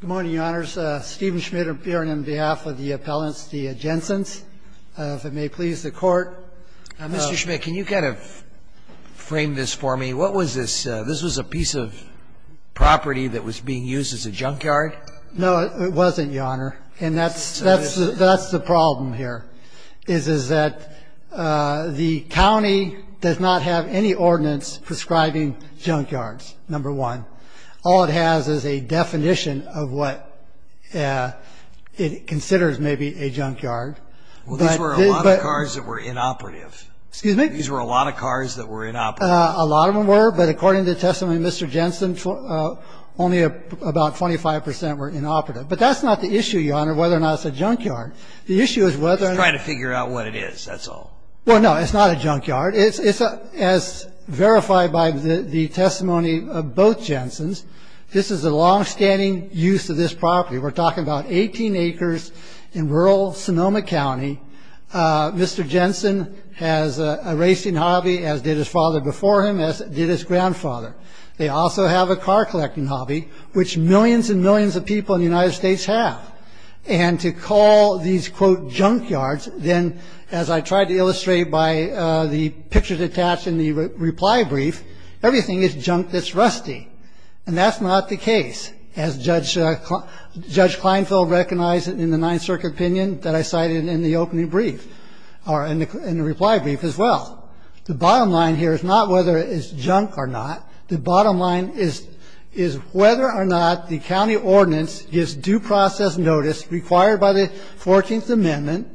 Good morning, Your Honors. Stephen Schmidt appearing on behalf of the appellants, the Jensens. If it may please the Court. Mr. Schmidt, can you kind of frame this for me? What was this? This was a piece of property that was being used as a junkyard? No, it wasn't, Your Honor. And that's the problem here, is that the county does not have any ordinance prescribing junkyards, number one. All it has is a definition of what it considers maybe a junkyard. Well, these were a lot of cars that were inoperative. Excuse me? These were a lot of cars that were inoperative. A lot of them were, but according to testimony of Mr. Jensen, only about 25% were inoperative. But that's not the issue, Your Honor, whether or not it's a junkyard. The issue is whether or not... Just trying to figure out what it is, that's all. Well, no, it's not a junkyard. As verified by the testimony of both Jensens, this is a longstanding use of this property. We're talking about 18 acres in rural Sonoma County. Mr. Jensen has a racing hobby, as did his father before him, as did his grandfather. They also have a car collecting hobby, which millions and millions of people in the United States have. And to call these, quote, junkyards, then, as I tried to illustrate by the pictures attached in the reply brief, everything is junk that's rusty, and that's not the case, as Judge Kleinfeld recognized in the Ninth Circuit opinion that I cited in the opening brief or in the reply brief as well. The bottom line here is not whether it is junk or not. The bottom line is whether or not the county ordinance gives due process notice required by the 14th Amendment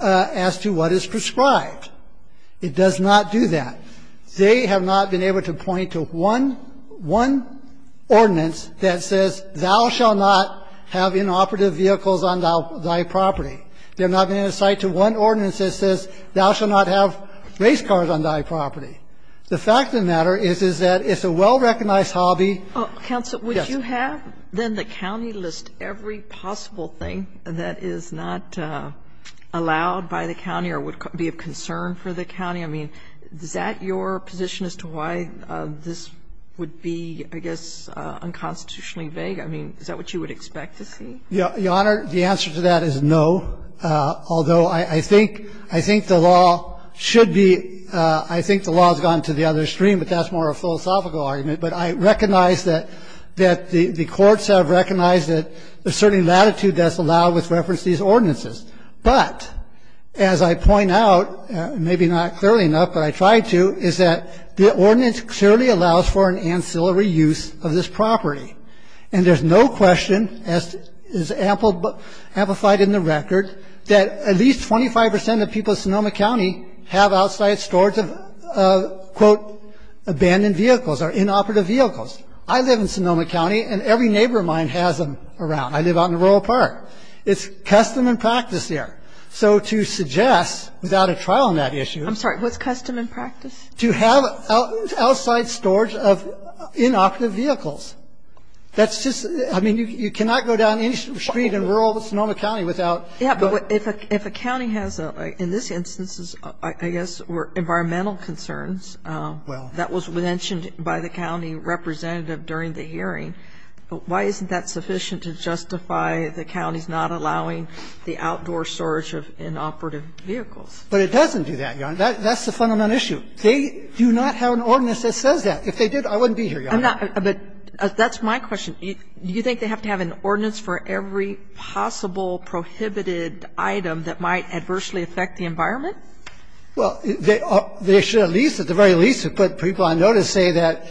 as to what is prescribed. It does not do that. They have not been able to point to one ordinance that says thou shall not have inoperative vehicles on thy property. They have not been able to cite to one ordinance that says thou shall not have race cars on thy property. The fact of the matter is, is that it's a well-recognized hobby. Yes. Kagan. Counsel, would you have, then, the county list every possible thing that is not allowed by the county or would be of concern for the county? I mean, is that your position as to why this would be, I guess, unconstitutionally vague? I mean, is that what you would expect to see? Your Honor, the answer to that is no. Although I think the law should be, I think the law has gone to the other stream, but that's more a philosophical argument. But I recognize that the courts have recognized that a certain latitude that's allowed with reference to these ordinances. But as I point out, maybe not clearly enough, but I try to, is that the ordinance clearly allows for an ancillary use of this property. And there's no question, as is amplified in the record, that at least 25 percent of people in Sonoma County have outside storage of, quote, abandoned vehicles or inoperative vehicles. I live in Sonoma County, and every neighbor of mine has them around. I live out in the rural part. It's custom and practice there. So to suggest, without a trial on that issue. I'm sorry. What's custom and practice? To have outside storage of inoperative vehicles. That's just, I mean, you cannot go down any street in rural Sonoma County without. Yeah, but if a county has a, in this instance, I guess, environmental concerns that was mentioned by the county representative during the hearing, why isn't that sufficient to justify the counties not allowing the outdoor storage of inoperative vehicles? But it doesn't do that, Your Honor. That's the fundamental issue. They do not have an ordinance that says that. If they did, I wouldn't be here, Your Honor. I'm not. But that's my question. Do you think they have to have an ordinance for every possible prohibited item that might adversely affect the environment? Well, they should at least, at the very least, have put people on notice saying that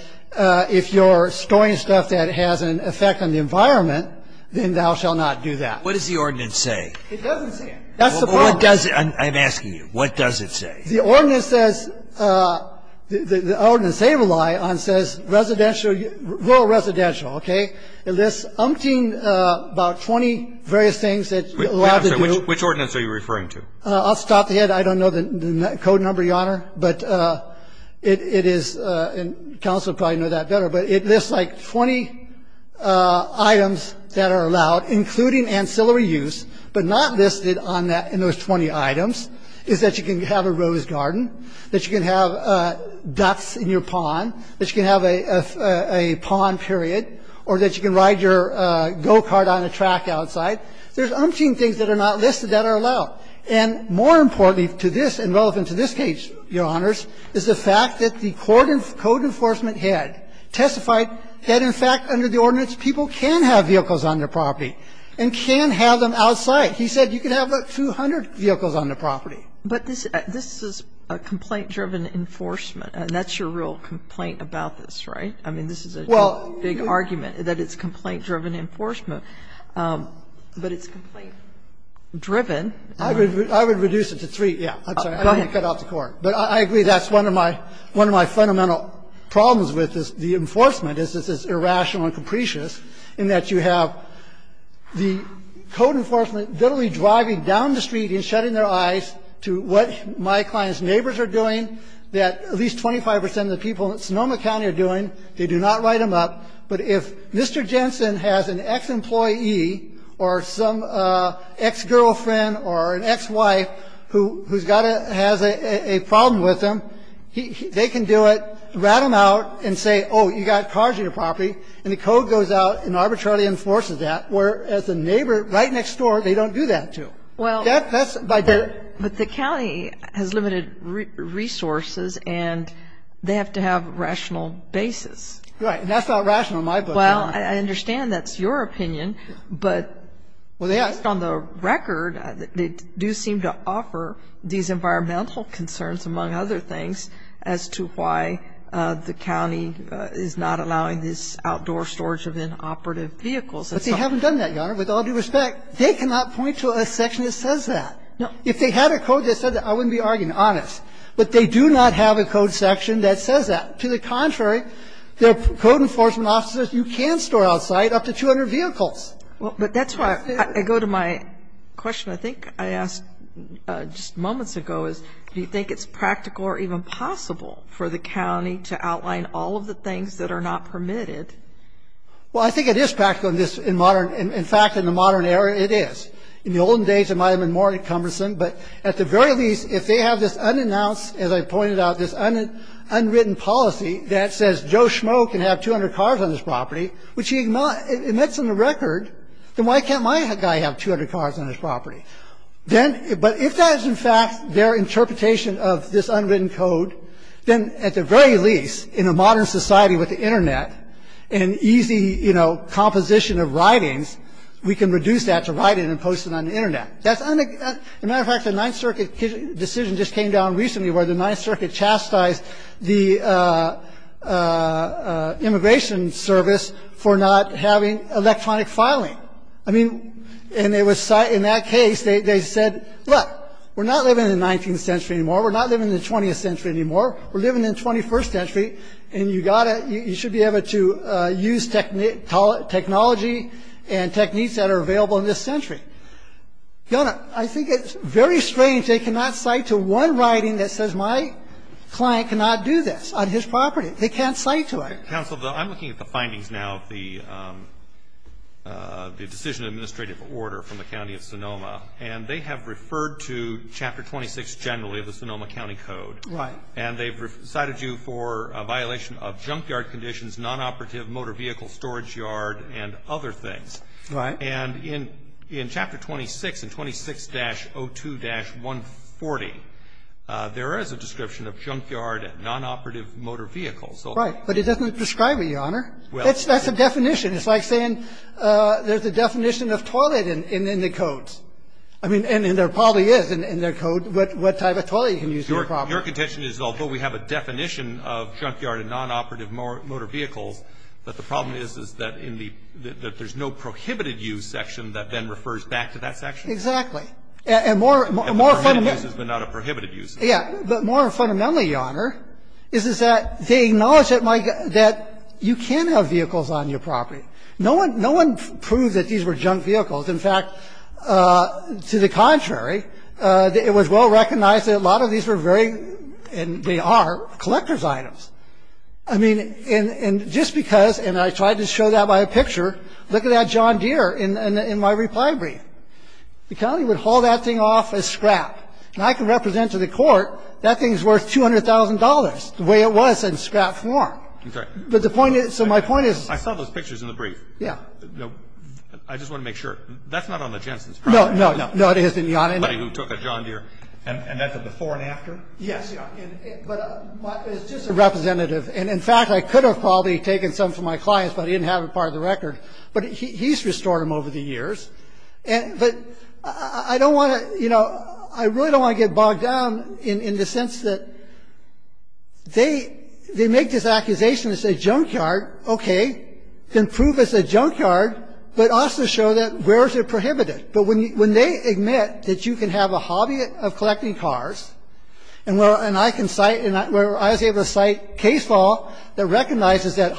if you're storing stuff that has an effect on the environment, then thou shall not do that. What does the ordinance say? It doesn't say it. That's the problem. I'm asking you. What does it say? The ordinance says, the ordinance they rely on says residential, rural residential, okay? It lists umpteen, about 20 various things that you're allowed to do. I'm sorry. Which ordinance are you referring to? I'll stop there. I don't know the code number, Your Honor. But it is, and counsel probably know that better, but it lists like 20 items that are allowed, including ancillary use, but not listed on that, in those 20 items, is that you can have a rose garden, that you can have ducks in your pond, that you can have a pond period, or that you can ride your go-kart on a track outside. There's umpteen things that are not listed that are allowed. And more importantly to this, and relevant to this case, Your Honors, is the fact that the code enforcement head testified that, in fact, under the ordinance, people can have vehicles on their property and can have them outside. He said you can have 200 vehicles on the property. But this is a complaint-driven enforcement. And that's your real complaint about this, right? I mean, this is a big argument, that it's complaint-driven enforcement. But it's complaint-driven. I would reduce it to three. Yeah. I'm sorry. Go ahead. I don't want to cut off the Court. But I agree that's one of my fundamental problems with the enforcement, is this is irrational and capricious, in that you have the code enforcement literally driving down the street and shutting their eyes to what my client's neighbors are doing, that at least 25 percent of the people in Sonoma County are doing. They do not write them up. But if Mr. Jensen has an ex-employee or some ex-girlfriend or an ex-wife who has a problem with him, they can do it, rat him out and say, oh, you've got cars on your property. And the code goes out and arbitrarily enforces that, whereas the neighbor right next door, they don't do that to. Well, but the county has limited resources and they have to have rational basis. Right. And that's not rational in my book. Well, I understand that's your opinion. But based on the record, they do seem to offer these environmental concerns, among other things, as to why the county is not allowing this outdoor storage of inoperative vehicles. But they haven't done that, Your Honor. With all due respect, they cannot point to a section that says that. If they had a code that said that, I wouldn't be arguing, honest. But they do not have a code section that says that. To the contrary, their code enforcement officers, you can store outside up to 200 vehicles. But that's why I go to my question. I think I asked just moments ago, do you think it's practical or even possible for the county to outline all of the things that are not permitted? Well, I think it is practical in this modern area. In fact, in the modern era, it is. In the olden days, it might have been more cumbersome. But at the very least, if they have this unannounced, as I pointed out, this unwritten policy that says Joe Schmoe can have 200 cars on his property, which he cannot. And that's on the record. Then why can't my guy have 200 cars on his property? But if that is, in fact, their interpretation of this unwritten code, then at the very least, in a modern society with the Internet and easy, you know, composition of writings, we can reduce that to writing and posting on the Internet. As a matter of fact, the Ninth Circuit decision just came down recently where the Ninth for not having electronic filing. I mean, and it was cited in that case, they said, look, we're not living in the 19th century anymore. We're not living in the 20th century anymore. We're living in the 21st century, and you got to you should be able to use technology and techniques that are available in this century. I think it's very strange they cannot cite to one writing that says my client cannot do this on his property. They can't cite to it. Counsel, though, I'm looking at the findings now of the decision administrative order from the County of Sonoma, and they have referred to Chapter 26 generally of the Sonoma County Code. Right. And they've cited you for a violation of junkyard conditions, nonoperative motor vehicle storage yard, and other things. Right. And in Chapter 26, in 26-02-140, there is a description of junkyard and nonoperative motor vehicles. Right. But it doesn't describe it, Your Honor. That's a definition. It's like saying there's a definition of toilet in the codes. I mean, and there probably is in their code what type of toilet you can use on your property. Your contention is although we have a definition of junkyard and nonoperative motor vehicles, that the problem is, is that in the ‑‑ that there's no prohibited use section that then refers back to that section? Exactly. And more fundamentally ‑‑ Prohibited uses, but not a prohibited use. Yeah. But more fundamentally, Your Honor, is that they acknowledge that you can have vehicles on your property. No one proves that these were junk vehicles. In fact, to the contrary, it was well recognized that a lot of these were very, and they are, collector's items. I mean, and just because, and I tried to show that by a picture. Look at that John Deere in my reply brief. The county would haul that thing off as scrap. And I can represent to the court that thing is worth $200,000, the way it was in scrap form. I'm sorry. But the point is, so my point is ‑‑ I saw those pictures in the brief. Yeah. I just want to make sure. That's not on the Jensen's property. No, no, no. No, it isn't, Your Honor. The buddy who took a John Deere. And that's a before and after? Yes. But it's just a representative. And in fact, I could have probably taken some for my clients, but I didn't have it part of the record. But he's restored them over the years. But I don't want to, you know, I really don't want to get bogged down in the sense that they make this accusation as a junkyard. Okay. Can prove it's a junkyard, but also show that where is it prohibited? But when they admit that you can have a hobby of collecting cars, and I can cite, and I was able to cite case law that recognizes that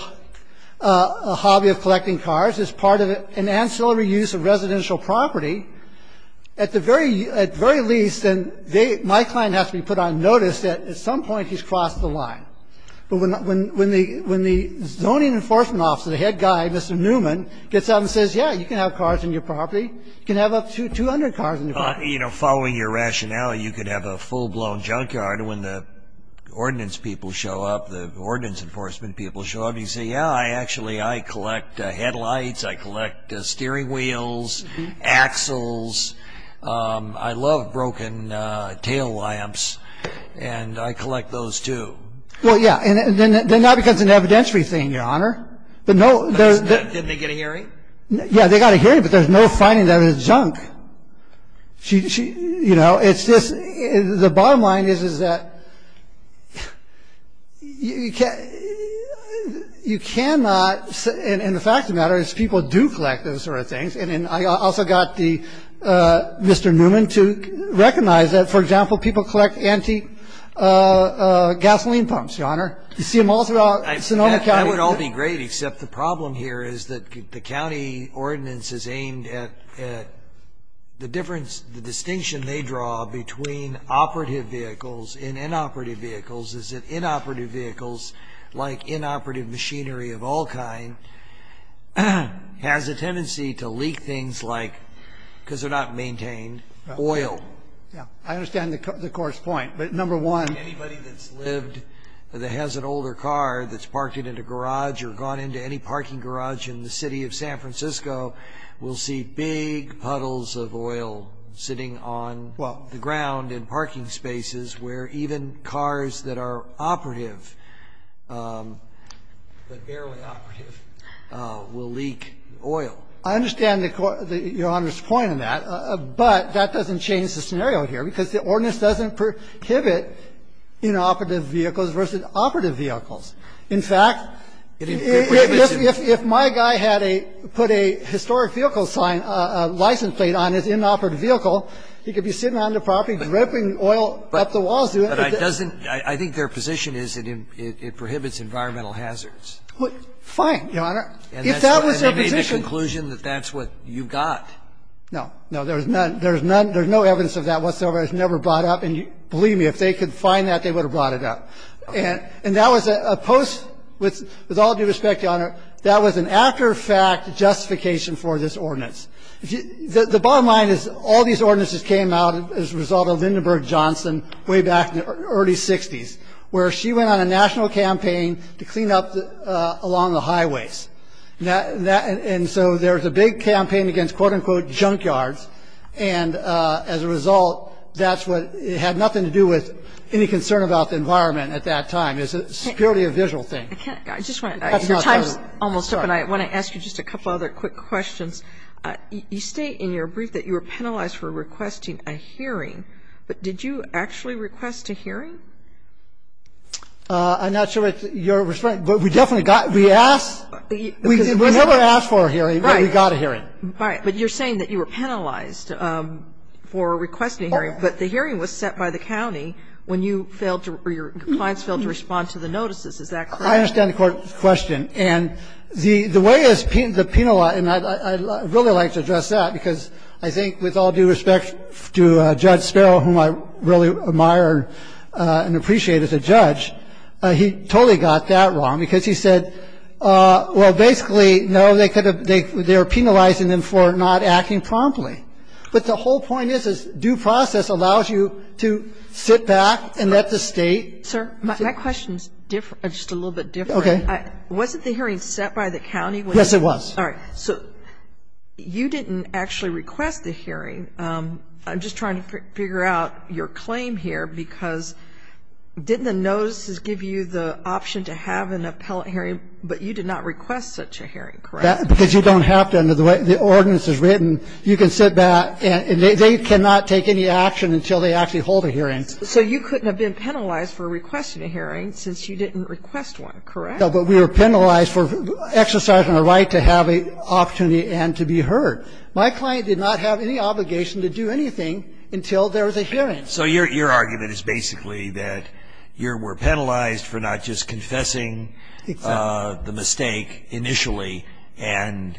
a hobby of collecting cars is part of an ancillary use of residential property, at the very least, and they, my client has to be put on notice that at some point he's crossed the line. But when the zoning enforcement officer, the head guy, Mr. Newman, gets out and says, yeah, you can have cars on your property. You can have up to 200 cars on your property. You know, following your rationale, you could have a full-blown junkyard. And when the ordinance people show up, the ordinance enforcement people show up, and they say, yeah, I actually, I collect headlights. I collect steering wheels, axles. I love broken tail lamps, and I collect those, too. Well, yeah, and then that becomes an evidentiary thing, Your Honor. Did they get a hearing? Yeah, they got a hearing, but there's no finding that it's junk. She, you know, it's just, the bottom line is, is that you cannot, and the fact of the matter is people do collect those sort of things. And I also got the, Mr. Newman to recognize that, for example, people collect antique gasoline pumps, Your Honor. You see them all throughout Sonoma County. That would all be great, except the problem here is that the county ordinance is aimed at the difference, the distinction they draw between operative vehicles and inoperative vehicles is that inoperative vehicles, like inoperative machinery of all kind, has a tendency to leak things like, because they're not maintained, oil. Yeah, I understand the court's point, but number one. Anybody that's lived, that has an older car, that's parked it in a garage or gone into any parking garage in the city of San Francisco will see big puddles of oil sitting on the ground in parking spaces where even cars that are operative, but barely operative, will leak oil. I understand the Court, Your Honor's point on that, but that doesn't change the scenario here, because the ordinance doesn't prohibit inoperative vehicles versus operative vehicles. In fact, if my guy had a, put a historic vehicle sign, a license plate on his inoperative vehicle, he could be sitting on the property dripping oil up the walls. But it doesn't, I think their position is it prohibits environmental hazards. Fine, Your Honor. If that was their position. And they made the conclusion that that's what you've got. No, no, there's none, there's none, there's no evidence of that whatsoever. It was never brought up. And believe me, if they could find that, they would have brought it up. And that was a post, with all due respect, Your Honor, that was an after-fact justification for this ordinance. The bottom line is all these ordinances came out as a result of Lindenberg-Johnson way back in the early 60s, where she went on a national campaign to clean up along the highways. And so there's a big campaign against, quote, unquote, junkyards. And as a result, that's what, it had nothing to do with any concern about the environment at that time. It's purely a visual thing. I just want to, your time's almost up. And I want to ask you just a couple other quick questions. You state in your brief that you were penalized for requesting a hearing. But did you actually request a hearing? I'm not sure what your response, but we definitely got, we asked. We never asked for a hearing, but we got a hearing. Right. But you're saying that you were penalized for requesting a hearing. But the hearing was set by the county when you failed to, or your clients failed to respond to the notices. Is that correct? I understand the Court's question. And the way the penal, and I'd really like to address that, because I think with all due respect to Judge Sparrow, whom I really admire and appreciate as a judge, he totally got that wrong, because he said, well, basically, no, they could have, they were penalizing them for not acting promptly. But the whole point is, is due process allows you to sit back and let the State. Sir, my question's different, just a little bit different. Okay. Wasn't the hearing set by the county? Yes, it was. All right. So you didn't actually request the hearing. I'm just trying to figure out your claim here, because didn't the notices give you the option to have an appellate hearing, but you did not request such a hearing, correct? Because you don't have to. Under the way the ordinance is written, you can sit back and they cannot take any action until they actually hold a hearing. So you couldn't have been penalized for requesting a hearing since you didn't request one, correct? No, but we were penalized for exercising a right to have an opportunity and to be heard. My client did not have any obligation to do anything until there was a hearing. So your argument is basically that you were penalized for not just confessing the mistake initially and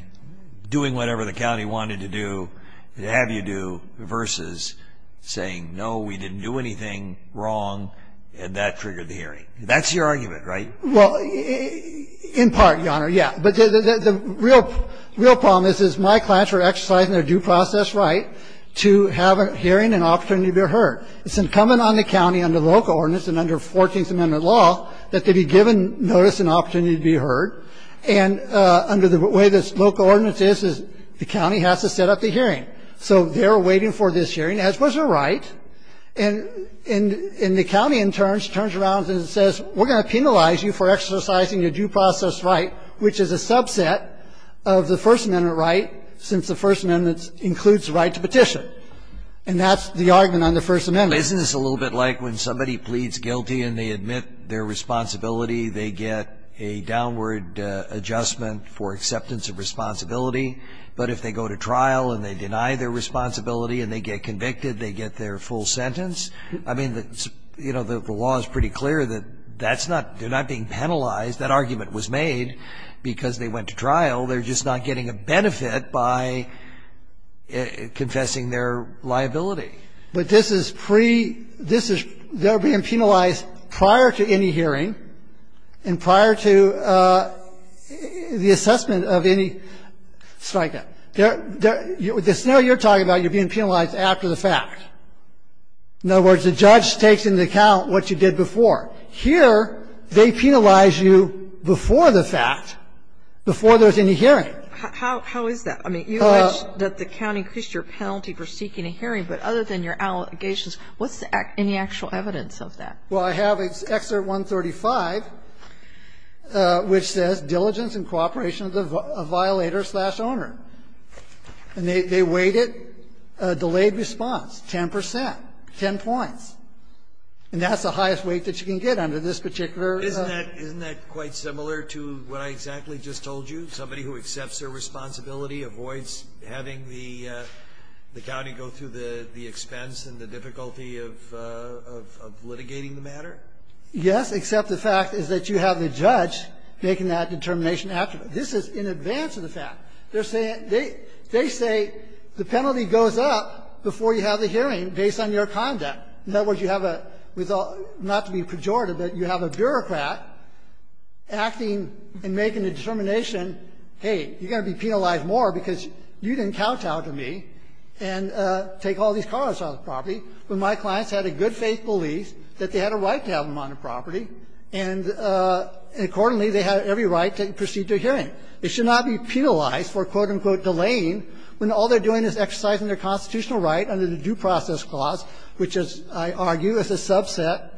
doing whatever the county wanted to do, to have you do, versus saying, no, we didn't do anything wrong, and that triggered the hearing. That's your argument, right? Well, in part, Your Honor, yes. But the real problem is my clients were exercising their due process right to have a hearing and opportunity to be heard. It's incumbent on the county under local ordinance and under 14th Amendment law that they be given notice and opportunity to be heard. And under the way this local ordinance is, the county has to set up the hearing. So they're waiting for this hearing, as was their right. And the county, in turn, turns around and says, we're going to penalize you for exercising your due process right, which is a subset of the First Amendment right, since the First Amendment includes the right to petition. And that's the argument on the First Amendment. Isn't this a little bit like when somebody pleads guilty and they admit their responsibility, they get a downward adjustment for acceptance of responsibility, but if they go to trial and they deny their responsibility and they get convicted, they get their full sentence? I mean, you know, the law is pretty clear that that's not they're not being penalized. That argument was made because they went to trial. They're just not getting a benefit by confessing their liability. But this is pre-this is they're being penalized prior to any hearing and prior to the assessment of any strike-up. Now you're talking about you're being penalized after the fact. In other words, the judge takes into account what you did before. Here, they penalize you before the fact, before there's any hearing. How is that? I mean, you alleged that the county increased your penalty for seeking a hearing, but other than your allegations, what's the actual evidence of that? Well, I have Excerpt 135, which says diligence and cooperation of the violator slash owner. And they weighed it. Delayed response, 10 percent, 10 points. And that's the highest weight that you can get under this particular. Isn't that quite similar to what I exactly just told you? Somebody who accepts their responsibility, avoids having the county go through the expense and the difficulty of litigating the matter? Yes, except the fact is that you have the judge making that determination after. This is in advance of the fact. They say the penalty goes up before you have the hearing based on your conduct. In other words, you have a – not to be pejorative, but you have a bureaucrat acting and making a determination, hey, you're going to be penalized more because you didn't kowtow to me and take all these cars off the property. But my clients had a good faith belief that they had a right to have them on the property, and accordingly, they had every right to proceed to a hearing. They should not be penalized for, quote, unquote, delaying when all they're doing is exercising their constitutional right under the Due Process Clause, which is, I argue, is a subset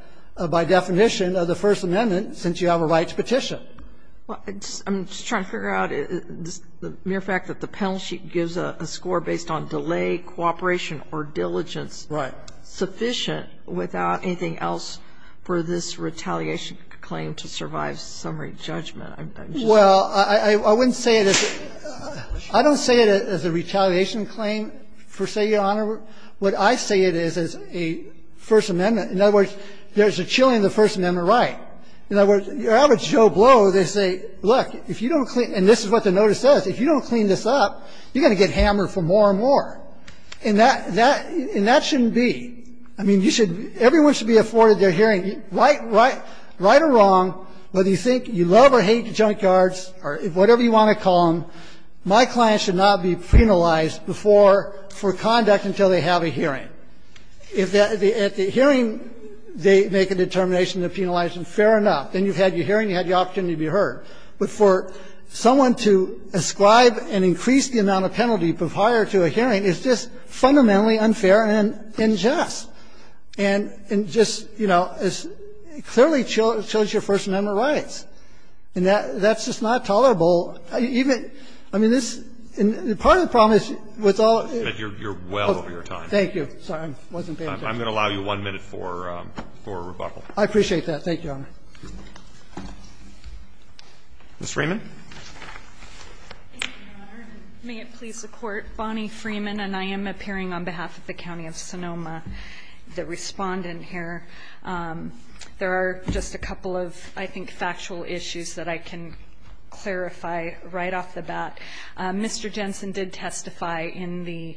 by definition of the First Amendment since you have a rights petition. Well, I'm just trying to figure out the mere fact that the penalty gives a score based on delay, cooperation or diligence. Right. And I'm just wondering if that's sufficient without anything else for this retaliation claim to survive summary judgment. I'm just wondering. Well, I wouldn't say it as a – I don't say it as a retaliation claim per se, Your Honor. What I say it is as a First Amendment. In other words, there's a chilling in the First Amendment right. In other words, your average Joe Blow, they say, look, if you don't clean – and this is what the notice says. If you don't clean this up, you're going to get hammered for more and more. And that – and that shouldn't be. I mean, you should – everyone should be afforded their hearing, right or wrong, whether you think you love or hate junkyards or whatever you want to call them. My client should not be penalized before – for conduct until they have a hearing. If at the hearing they make a determination they're penalized, then fair enough. Then you've had your hearing. You had the opportunity to be heard. But for someone to ascribe and increase the amount of penalty prior to a hearing is just fundamentally unfair and unjust. And just, you know, clearly chills your First Amendment rights. And that's just not tolerable. Even – I mean, this – and part of the problem is with all of this – You're well over your time. Thank you. Sorry, I wasn't paying attention. I'm going to allow you one minute for rebuttal. I appreciate that. Thank you, Your Honor. Ms. Freeman. Thank you, Your Honor. And may it please the Court, Bonnie Freeman, and I am appearing on behalf of the County of Sonoma, the respondent here. There are just a couple of, I think, factual issues that I can clarify right off the bat. Mr. Jensen did testify in the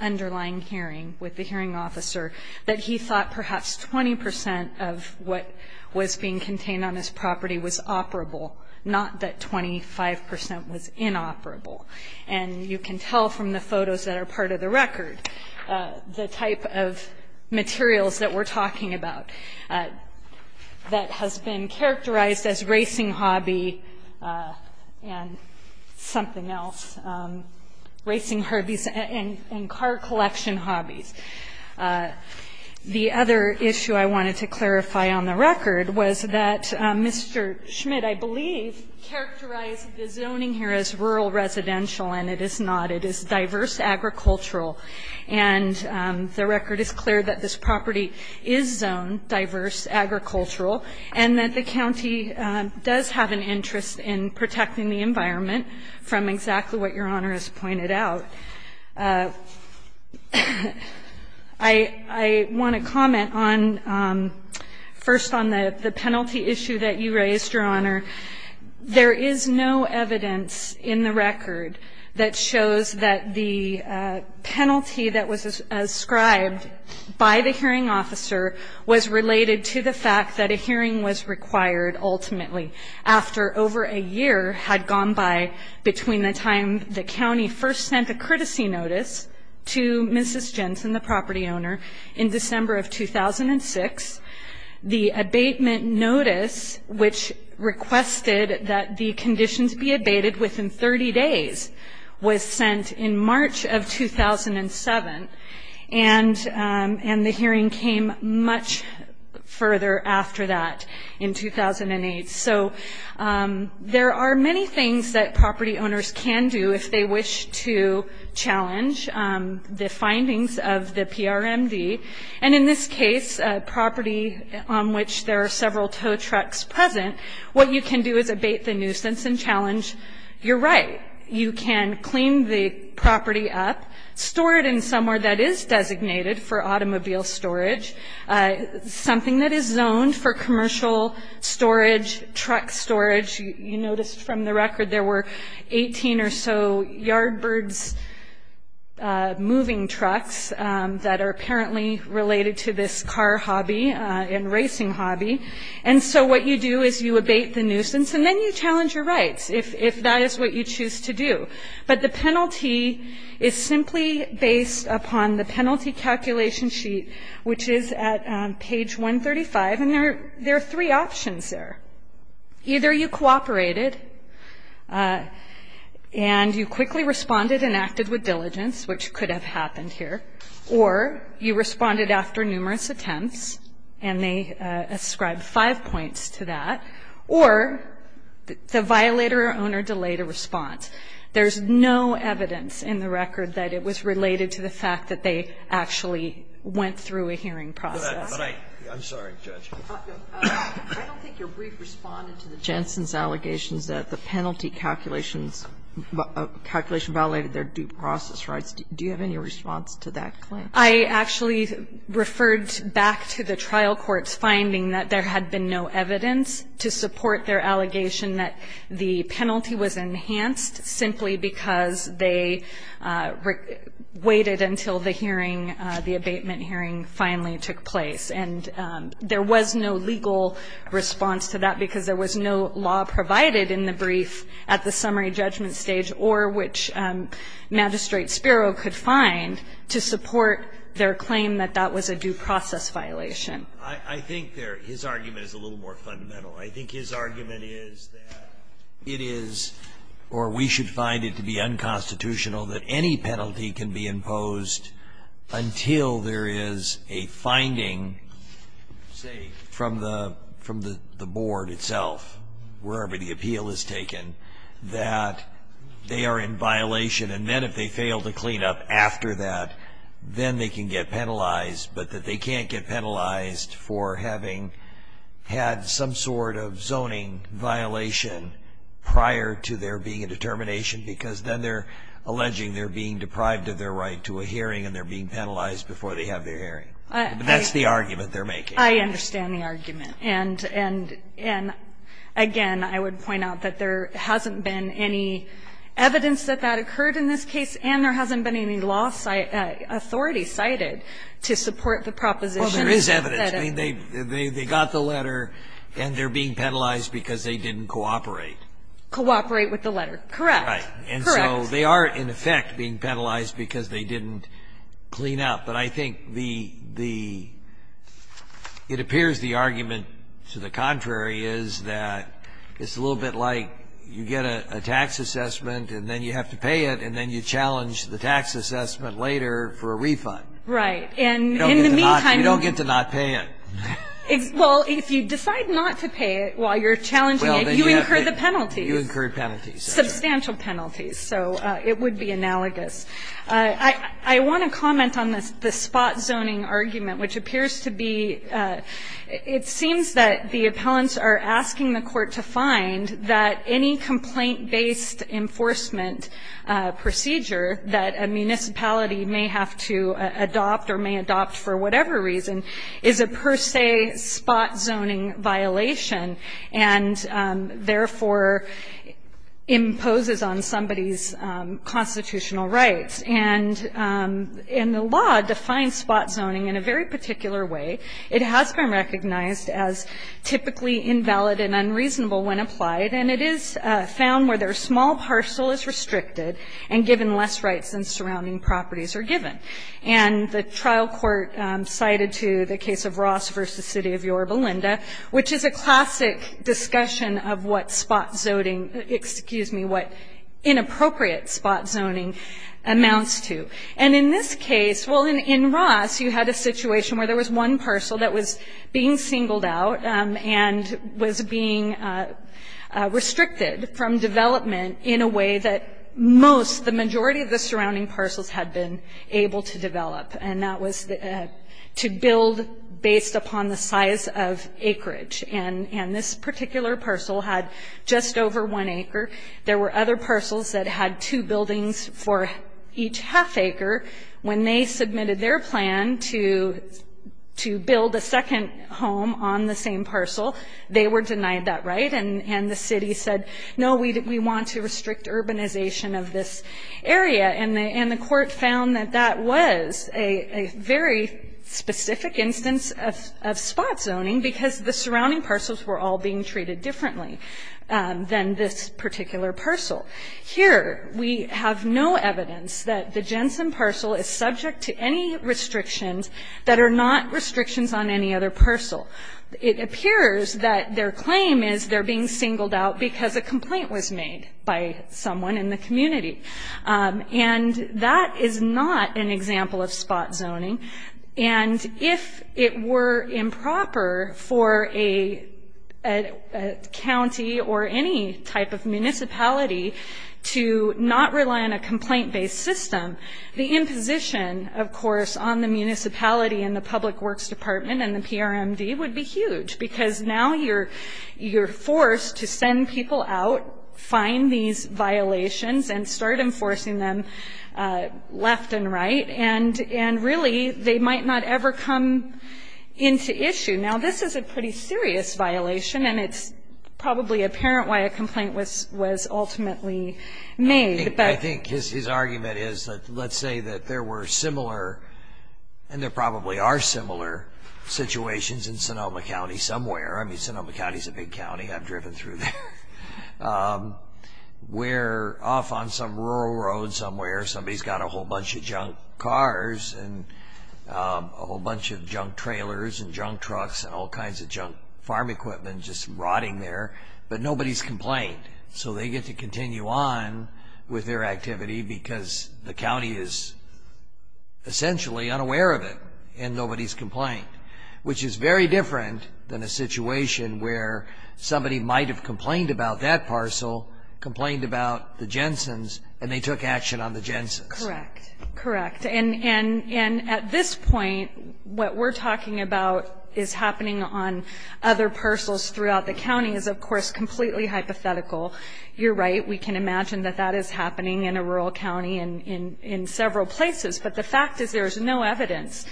underlying hearing with the hearing officer that he thought perhaps 20 percent of what was being contained on his property was operable, not that 25 percent was inoperable. And you can tell from the photos that are part of the record the type of materials that we're talking about that has been characterized as racing hobby and something else, racing hobbies and car collection hobbies. The other issue I wanted to clarify on the record was that Mr. Schmidt, I believe, characterized the zoning here as rural residential, and it is not. It is diverse agricultural. And the record is clear that this property is zoned diverse agricultural and that the county does have an interest in protecting the environment from exactly what Your Honor has pointed out. I want to comment on, first, on the penalty issue that you raised, Your Honor. There is no evidence in the record that shows that the penalty that was ascribed by the hearing officer was related to the fact that a hearing was required, ultimately, after over a year had gone by between the time the county first sent a courtesy notice to Mrs. Jensen, the property owner, in December of 2006. The abatement notice, which requested that the conditions be abated within 30 days, was sent in March of 2007, and the hearing came much further after that in 2008. So there are many things that property owners can do if they wish to challenge the findings of the PRMD. And in this case, a property on which there are several tow trucks present, what you can do is abate the nuisance and challenge your right. You can clean the property up, store it in somewhere that is designated for automobile storage, something that is zoned for commercial storage, truck storage. You notice from the record there were 18 or so Yardbirds moving trucks that are apparently related to this car hobby and racing hobby. And so what you do is you abate the nuisance, and then you challenge your rights. If that is what you choose to do. But the penalty is simply based upon the penalty calculation sheet, which is at page 135. And there are three options there. Either you cooperated and you quickly responded and acted with diligence, which could have happened here, or you responded after numerous attempts, and they ascribe five points to that, or the violator or owner delayed a response. There's no evidence in the record that it was related to the fact that they actually went through a hearing process. Scalia. I'm sorry, Judge. Kagan. I don't think your brief responded to the Jensen's allegations that the penalty calculations, calculation violated their due process rights. Do you have any response to that claim? I actually referred back to the trial court's finding that there had been no evidence to support their allegation that the penalty was enhanced simply because they waited until the hearing, the abatement hearing finally took place. And there was no legal response to that because there was no law provided in the brief at the summary judgment stage or which Magistrate Spiro could find to support their claim that that was a due process violation. I think his argument is a little more fundamental. I think his argument is that it is, or we should find it to be unconstitutional that any penalty can be imposed until there is a finding, say, from the board itself, wherever the appeal is taken, that they are in violation, and then if they fail to clean up after that, then they can get penalized, but that they can't get penalized for having had some sort of zoning violation prior to there being a determination because then they're alleging they're being deprived of their right to a hearing and they're being penalized before they have their hearing. That's the argument they're making. I understand the argument. And, again, I would point out that there hasn't been any evidence that that occurred in this case, and there hasn't been any law authority cited to support the proposition that it would be. Well, there is evidence. I mean, they got the letter, and they're being penalized because they didn't cooperate. Cooperate with the letter. Correct. Right. Correct. And so they are, in effect, being penalized because they didn't clean up. But I think the the, it appears the argument to the contrary is that it's a little bit like you get a tax assessment, and then you have to pay it, and then you challenge the tax assessment later for a refund. Right. And in the meantime, you don't get to not pay it. Well, if you decide not to pay it while you're challenging it, you incur the penalties. You incur penalties. Substantial penalties. So it would be analogous. I want to comment on the spot zoning argument, which appears to be, it seems that the appellants are asking the court to find that any complaint-based enforcement procedure that a municipality may have to adopt or may adopt for whatever reason is a per se spot zoning violation, and therefore imposes on somebody's constitutional rights. And the law defines spot zoning in a very particular way. It has been recognized as typically invalid and unreasonable when applied, and it is found where their small parcel is restricted and given less rights than surrounding properties are given. And the trial court cited to the case of Ross v. City of Yorba Linda, which is a classic discussion of what spot zoning, excuse me, what inappropriate spot zoning amounts to. And in this case, well, in Ross, you had a situation where there was one parcel that was being singled out and was being restricted from development in a way that most, the majority of the surrounding parcels had been able to develop, and that was to build based upon the size of acreage. And this particular parcel had just over one acre. There were other parcels that had two buildings for each half acre. When they submitted their plan to build a second home on the same parcel, they were denied that right, and the city said, no, we want to restrict urbanization of this area. And the court found that that was a very specific instance of spot zoning because the surrounding parcels were all being treated differently than this particular parcel. Here, we have no evidence that the Jensen parcel is subject to any restrictions that are not restrictions on any other parcel. It appears that their claim is they're being singled out because a complaint was made by someone in the community. And that is not an example of spot zoning. And if it were improper for a county or any type of municipality to not rely on a complaint-based system, the imposition, of course, on the municipality and the Public Works Department and the PRMD would be huge because now you're forced to send people out, find these violations, and start enforcing them left and right, and really they might not ever come into issue. Now, this is a pretty serious violation, and it's probably apparent why a complaint was ultimately made. I think his argument is that let's say that there were similar, and there probably are similar, situations in Sonoma County somewhere. I mean, Sonoma County is a big county. I've driven through there. We're off on some rural road somewhere. Somebody's got a whole bunch of junk cars and a whole bunch of junk trailers and junk trucks and all kinds of junk farm equipment just rotting there, but nobody's complained. So they get to continue on with their activity because the county is essentially unaware of it and nobody's complained, which is very different than a situation where somebody might have complained about that parcel, complained about the Jensen's, and they took action on the Jensen's. Correct. Correct. And at this point, what we're talking about is happening on other parcels throughout the county is, of course, completely hypothetical. You're right. We can imagine that that is happening in a rural county and in several places, but the fact is there is no evidence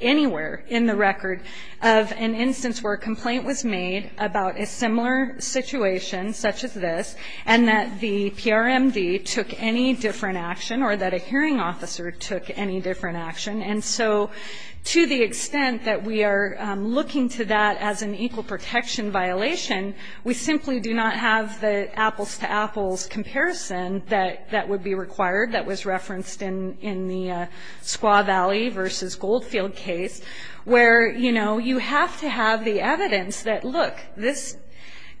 anywhere in the record of an instance where a complaint was made about a similar situation such as this and that the PRMD took any different action or that a hearing officer took any different action. And so to the extent that we are looking to that as an equal protection violation, we simply do not have the apples-to-apples comparison that would be in the Squaw Valley v. Goldfield case where, you know, you have to have the evidence that, look, this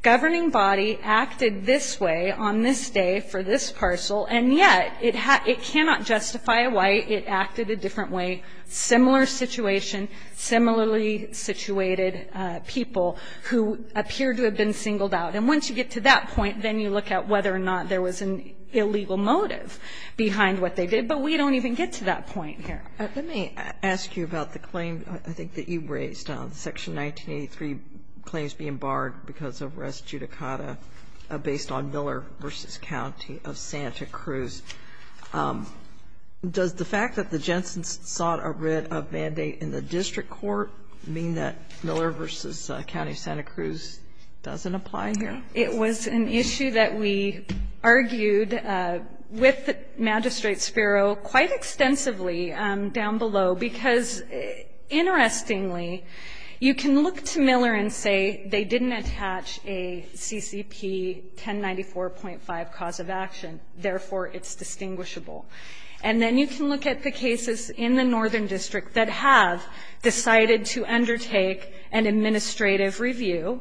governing body acted this way on this day for this parcel, and yet it cannot justify why it acted a different way, similar situation, similarly situated people who appear to have been singled out. And once you get to that point, then you look at whether or not there was an We're trying to get to that point here. Let me ask you about the claim, I think, that you raised, Section 1983, claims being barred because of res judicata based on Miller v. County of Santa Cruz. Does the fact that the Jensen's sought a writ of mandate in the district court mean that Miller v. County of Santa Cruz doesn't apply here? It was an issue that we argued with Magistrate Spiro quite extensively down below because, interestingly, you can look to Miller and say they didn't attach a CCP 1094.5 cause of action, therefore it's distinguishable. And then you can look at the cases in the northern district that have decided to undertake an administrative review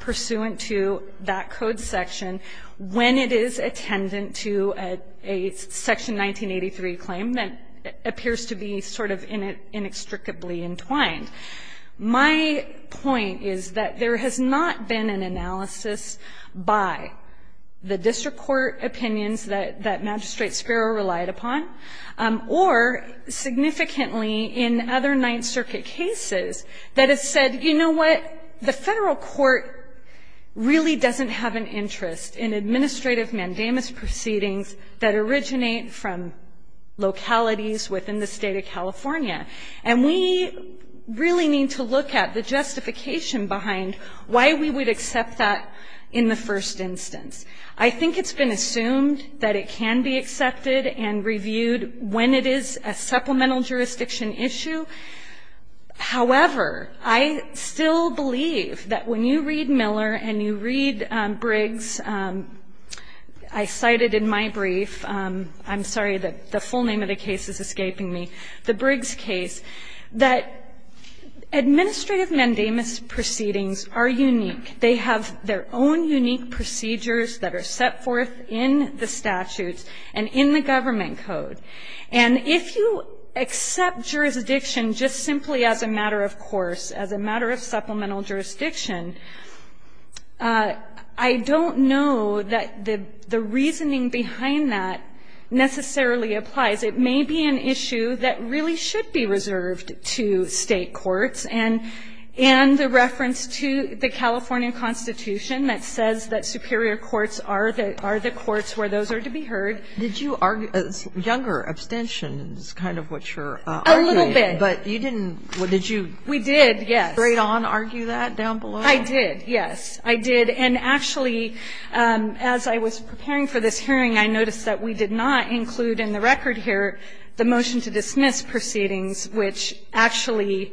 pursuant to that code section when it is attendant to a Section 1983 claim that appears to be sort of inextricably entwined. My point is that there has not been an analysis by the district court opinions that Magistrate Spiro relied upon, or significantly in other Ninth Circuit cases that has said, you know what, the Federal court really doesn't have an interest in administrative mandamus proceedings that originate from localities within the State of California. And we really need to look at the justification behind why we would accept that in the first instance. I think it's been assumed that it can be accepted and reviewed when it is a supplemental jurisdiction issue. However, I still believe that when you read Miller and you read Briggs, I cited in my brief, I'm sorry, the full name of the case is escaping me, the Briggs case, that administrative mandamus proceedings are unique. They have their own unique procedures that are set forth in the statutes and in the government code. And if you accept jurisdiction just simply as a matter of course, as a matter of supplemental jurisdiction, I don't know that the reasoning behind that necessarily applies. It may be an issue that really should be reserved to State courts. And the reference to the California Constitution that says that superior courts are the courts where those are to be heard. Kagan, did you argue as younger abstentions kind of what you're arguing? A little bit. But you didn't, did you? We did, yes. Straight on argue that down below? I did, yes. I did. And actually, as I was preparing for this hearing, I noticed that we did not include in the record here the motion to dismiss proceedings, which actually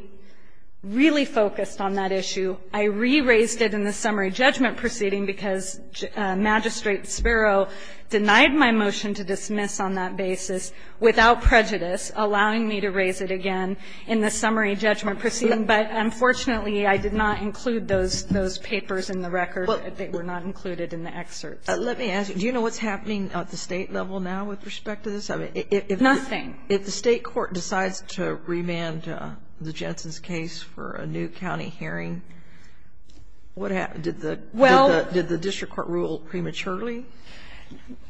really focused on that issue. I re-raised it in the summary judgment proceeding because Magistrate Spiro denied my motion to dismiss on that basis without prejudice, allowing me to raise it again in the summary judgment proceeding. But unfortunately, I did not include those papers in the record. They were not included in the excerpt. Let me ask you. Do you know what's happening at the State level now with respect to this? Nothing. If the State court decides to remand the Jensen's case for a new county hearing, what happens? Did the district court rule prematurely?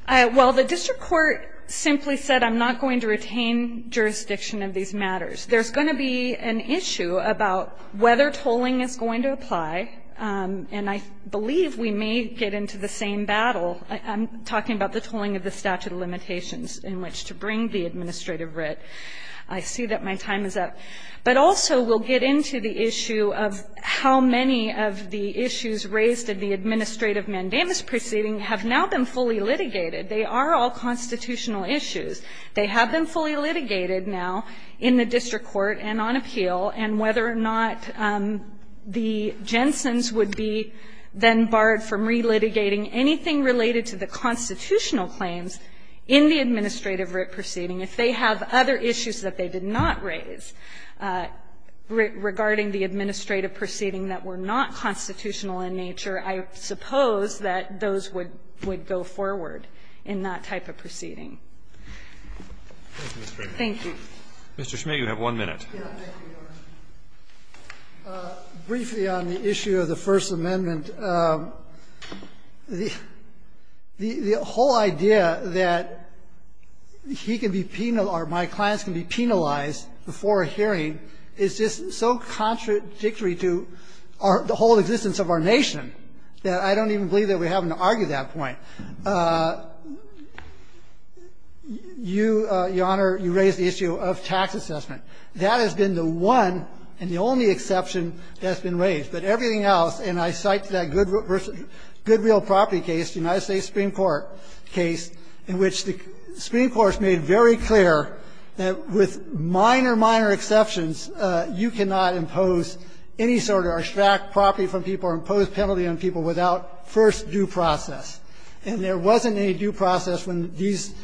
Well, the district court simply said I'm not going to retain jurisdiction of these matters. There's going to be an issue about whether tolling is going to apply, and I believe we may get into the same battle. I'm talking about the tolling of the statute of limitations in which to bring the administrative writ. I see that my time is up. But also we'll get into the issue of how many of the issues raised in the administrative writ proceeding have now been fully litigated. They are all constitutional issues. They have been fully litigated now in the district court and on appeal, and whether or not the Jensen's would be then barred from relitigating anything related to the constitutional claims in the administrative writ proceeding. If they have other issues that they did not raise regarding the administrative writ proceeding that were not constitutional in nature, I suppose that those would go forward in that type of proceeding. Thank you. Mr. Schmidt, you have one minute. Briefly on the issue of the First Amendment, the whole idea that he can be penalized or my clients can be penalized before a hearing is just so contradictory to the whole existence of our nation that I don't even believe that we have to argue that point. You, Your Honor, you raised the issue of tax assessment. That has been the one and the only exception that's been raised. But everything else, and I cite that Goodwill property case, the United States Supreme Court case, in which the Supreme Court has made very clear that with minor, minor exceptions, you cannot impose any sort of or extract property from people or impose penalty on people without first due process. And there wasn't any due process when these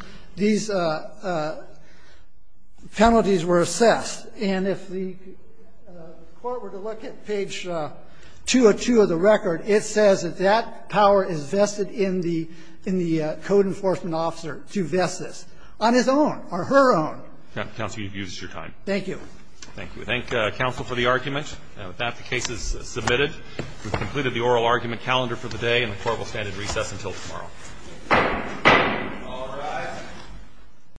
penalties were assessed. And if the Court were to look at page 202 of the record, it says that that power is vested in the code enforcement officer to vest this on his own or her own. Counsel, you've used your time. Thank you. Thank you. We thank counsel for the argument. And with that, the case is submitted. We've completed the oral argument calendar for the day, and the court will stand in recess until tomorrow. All rise.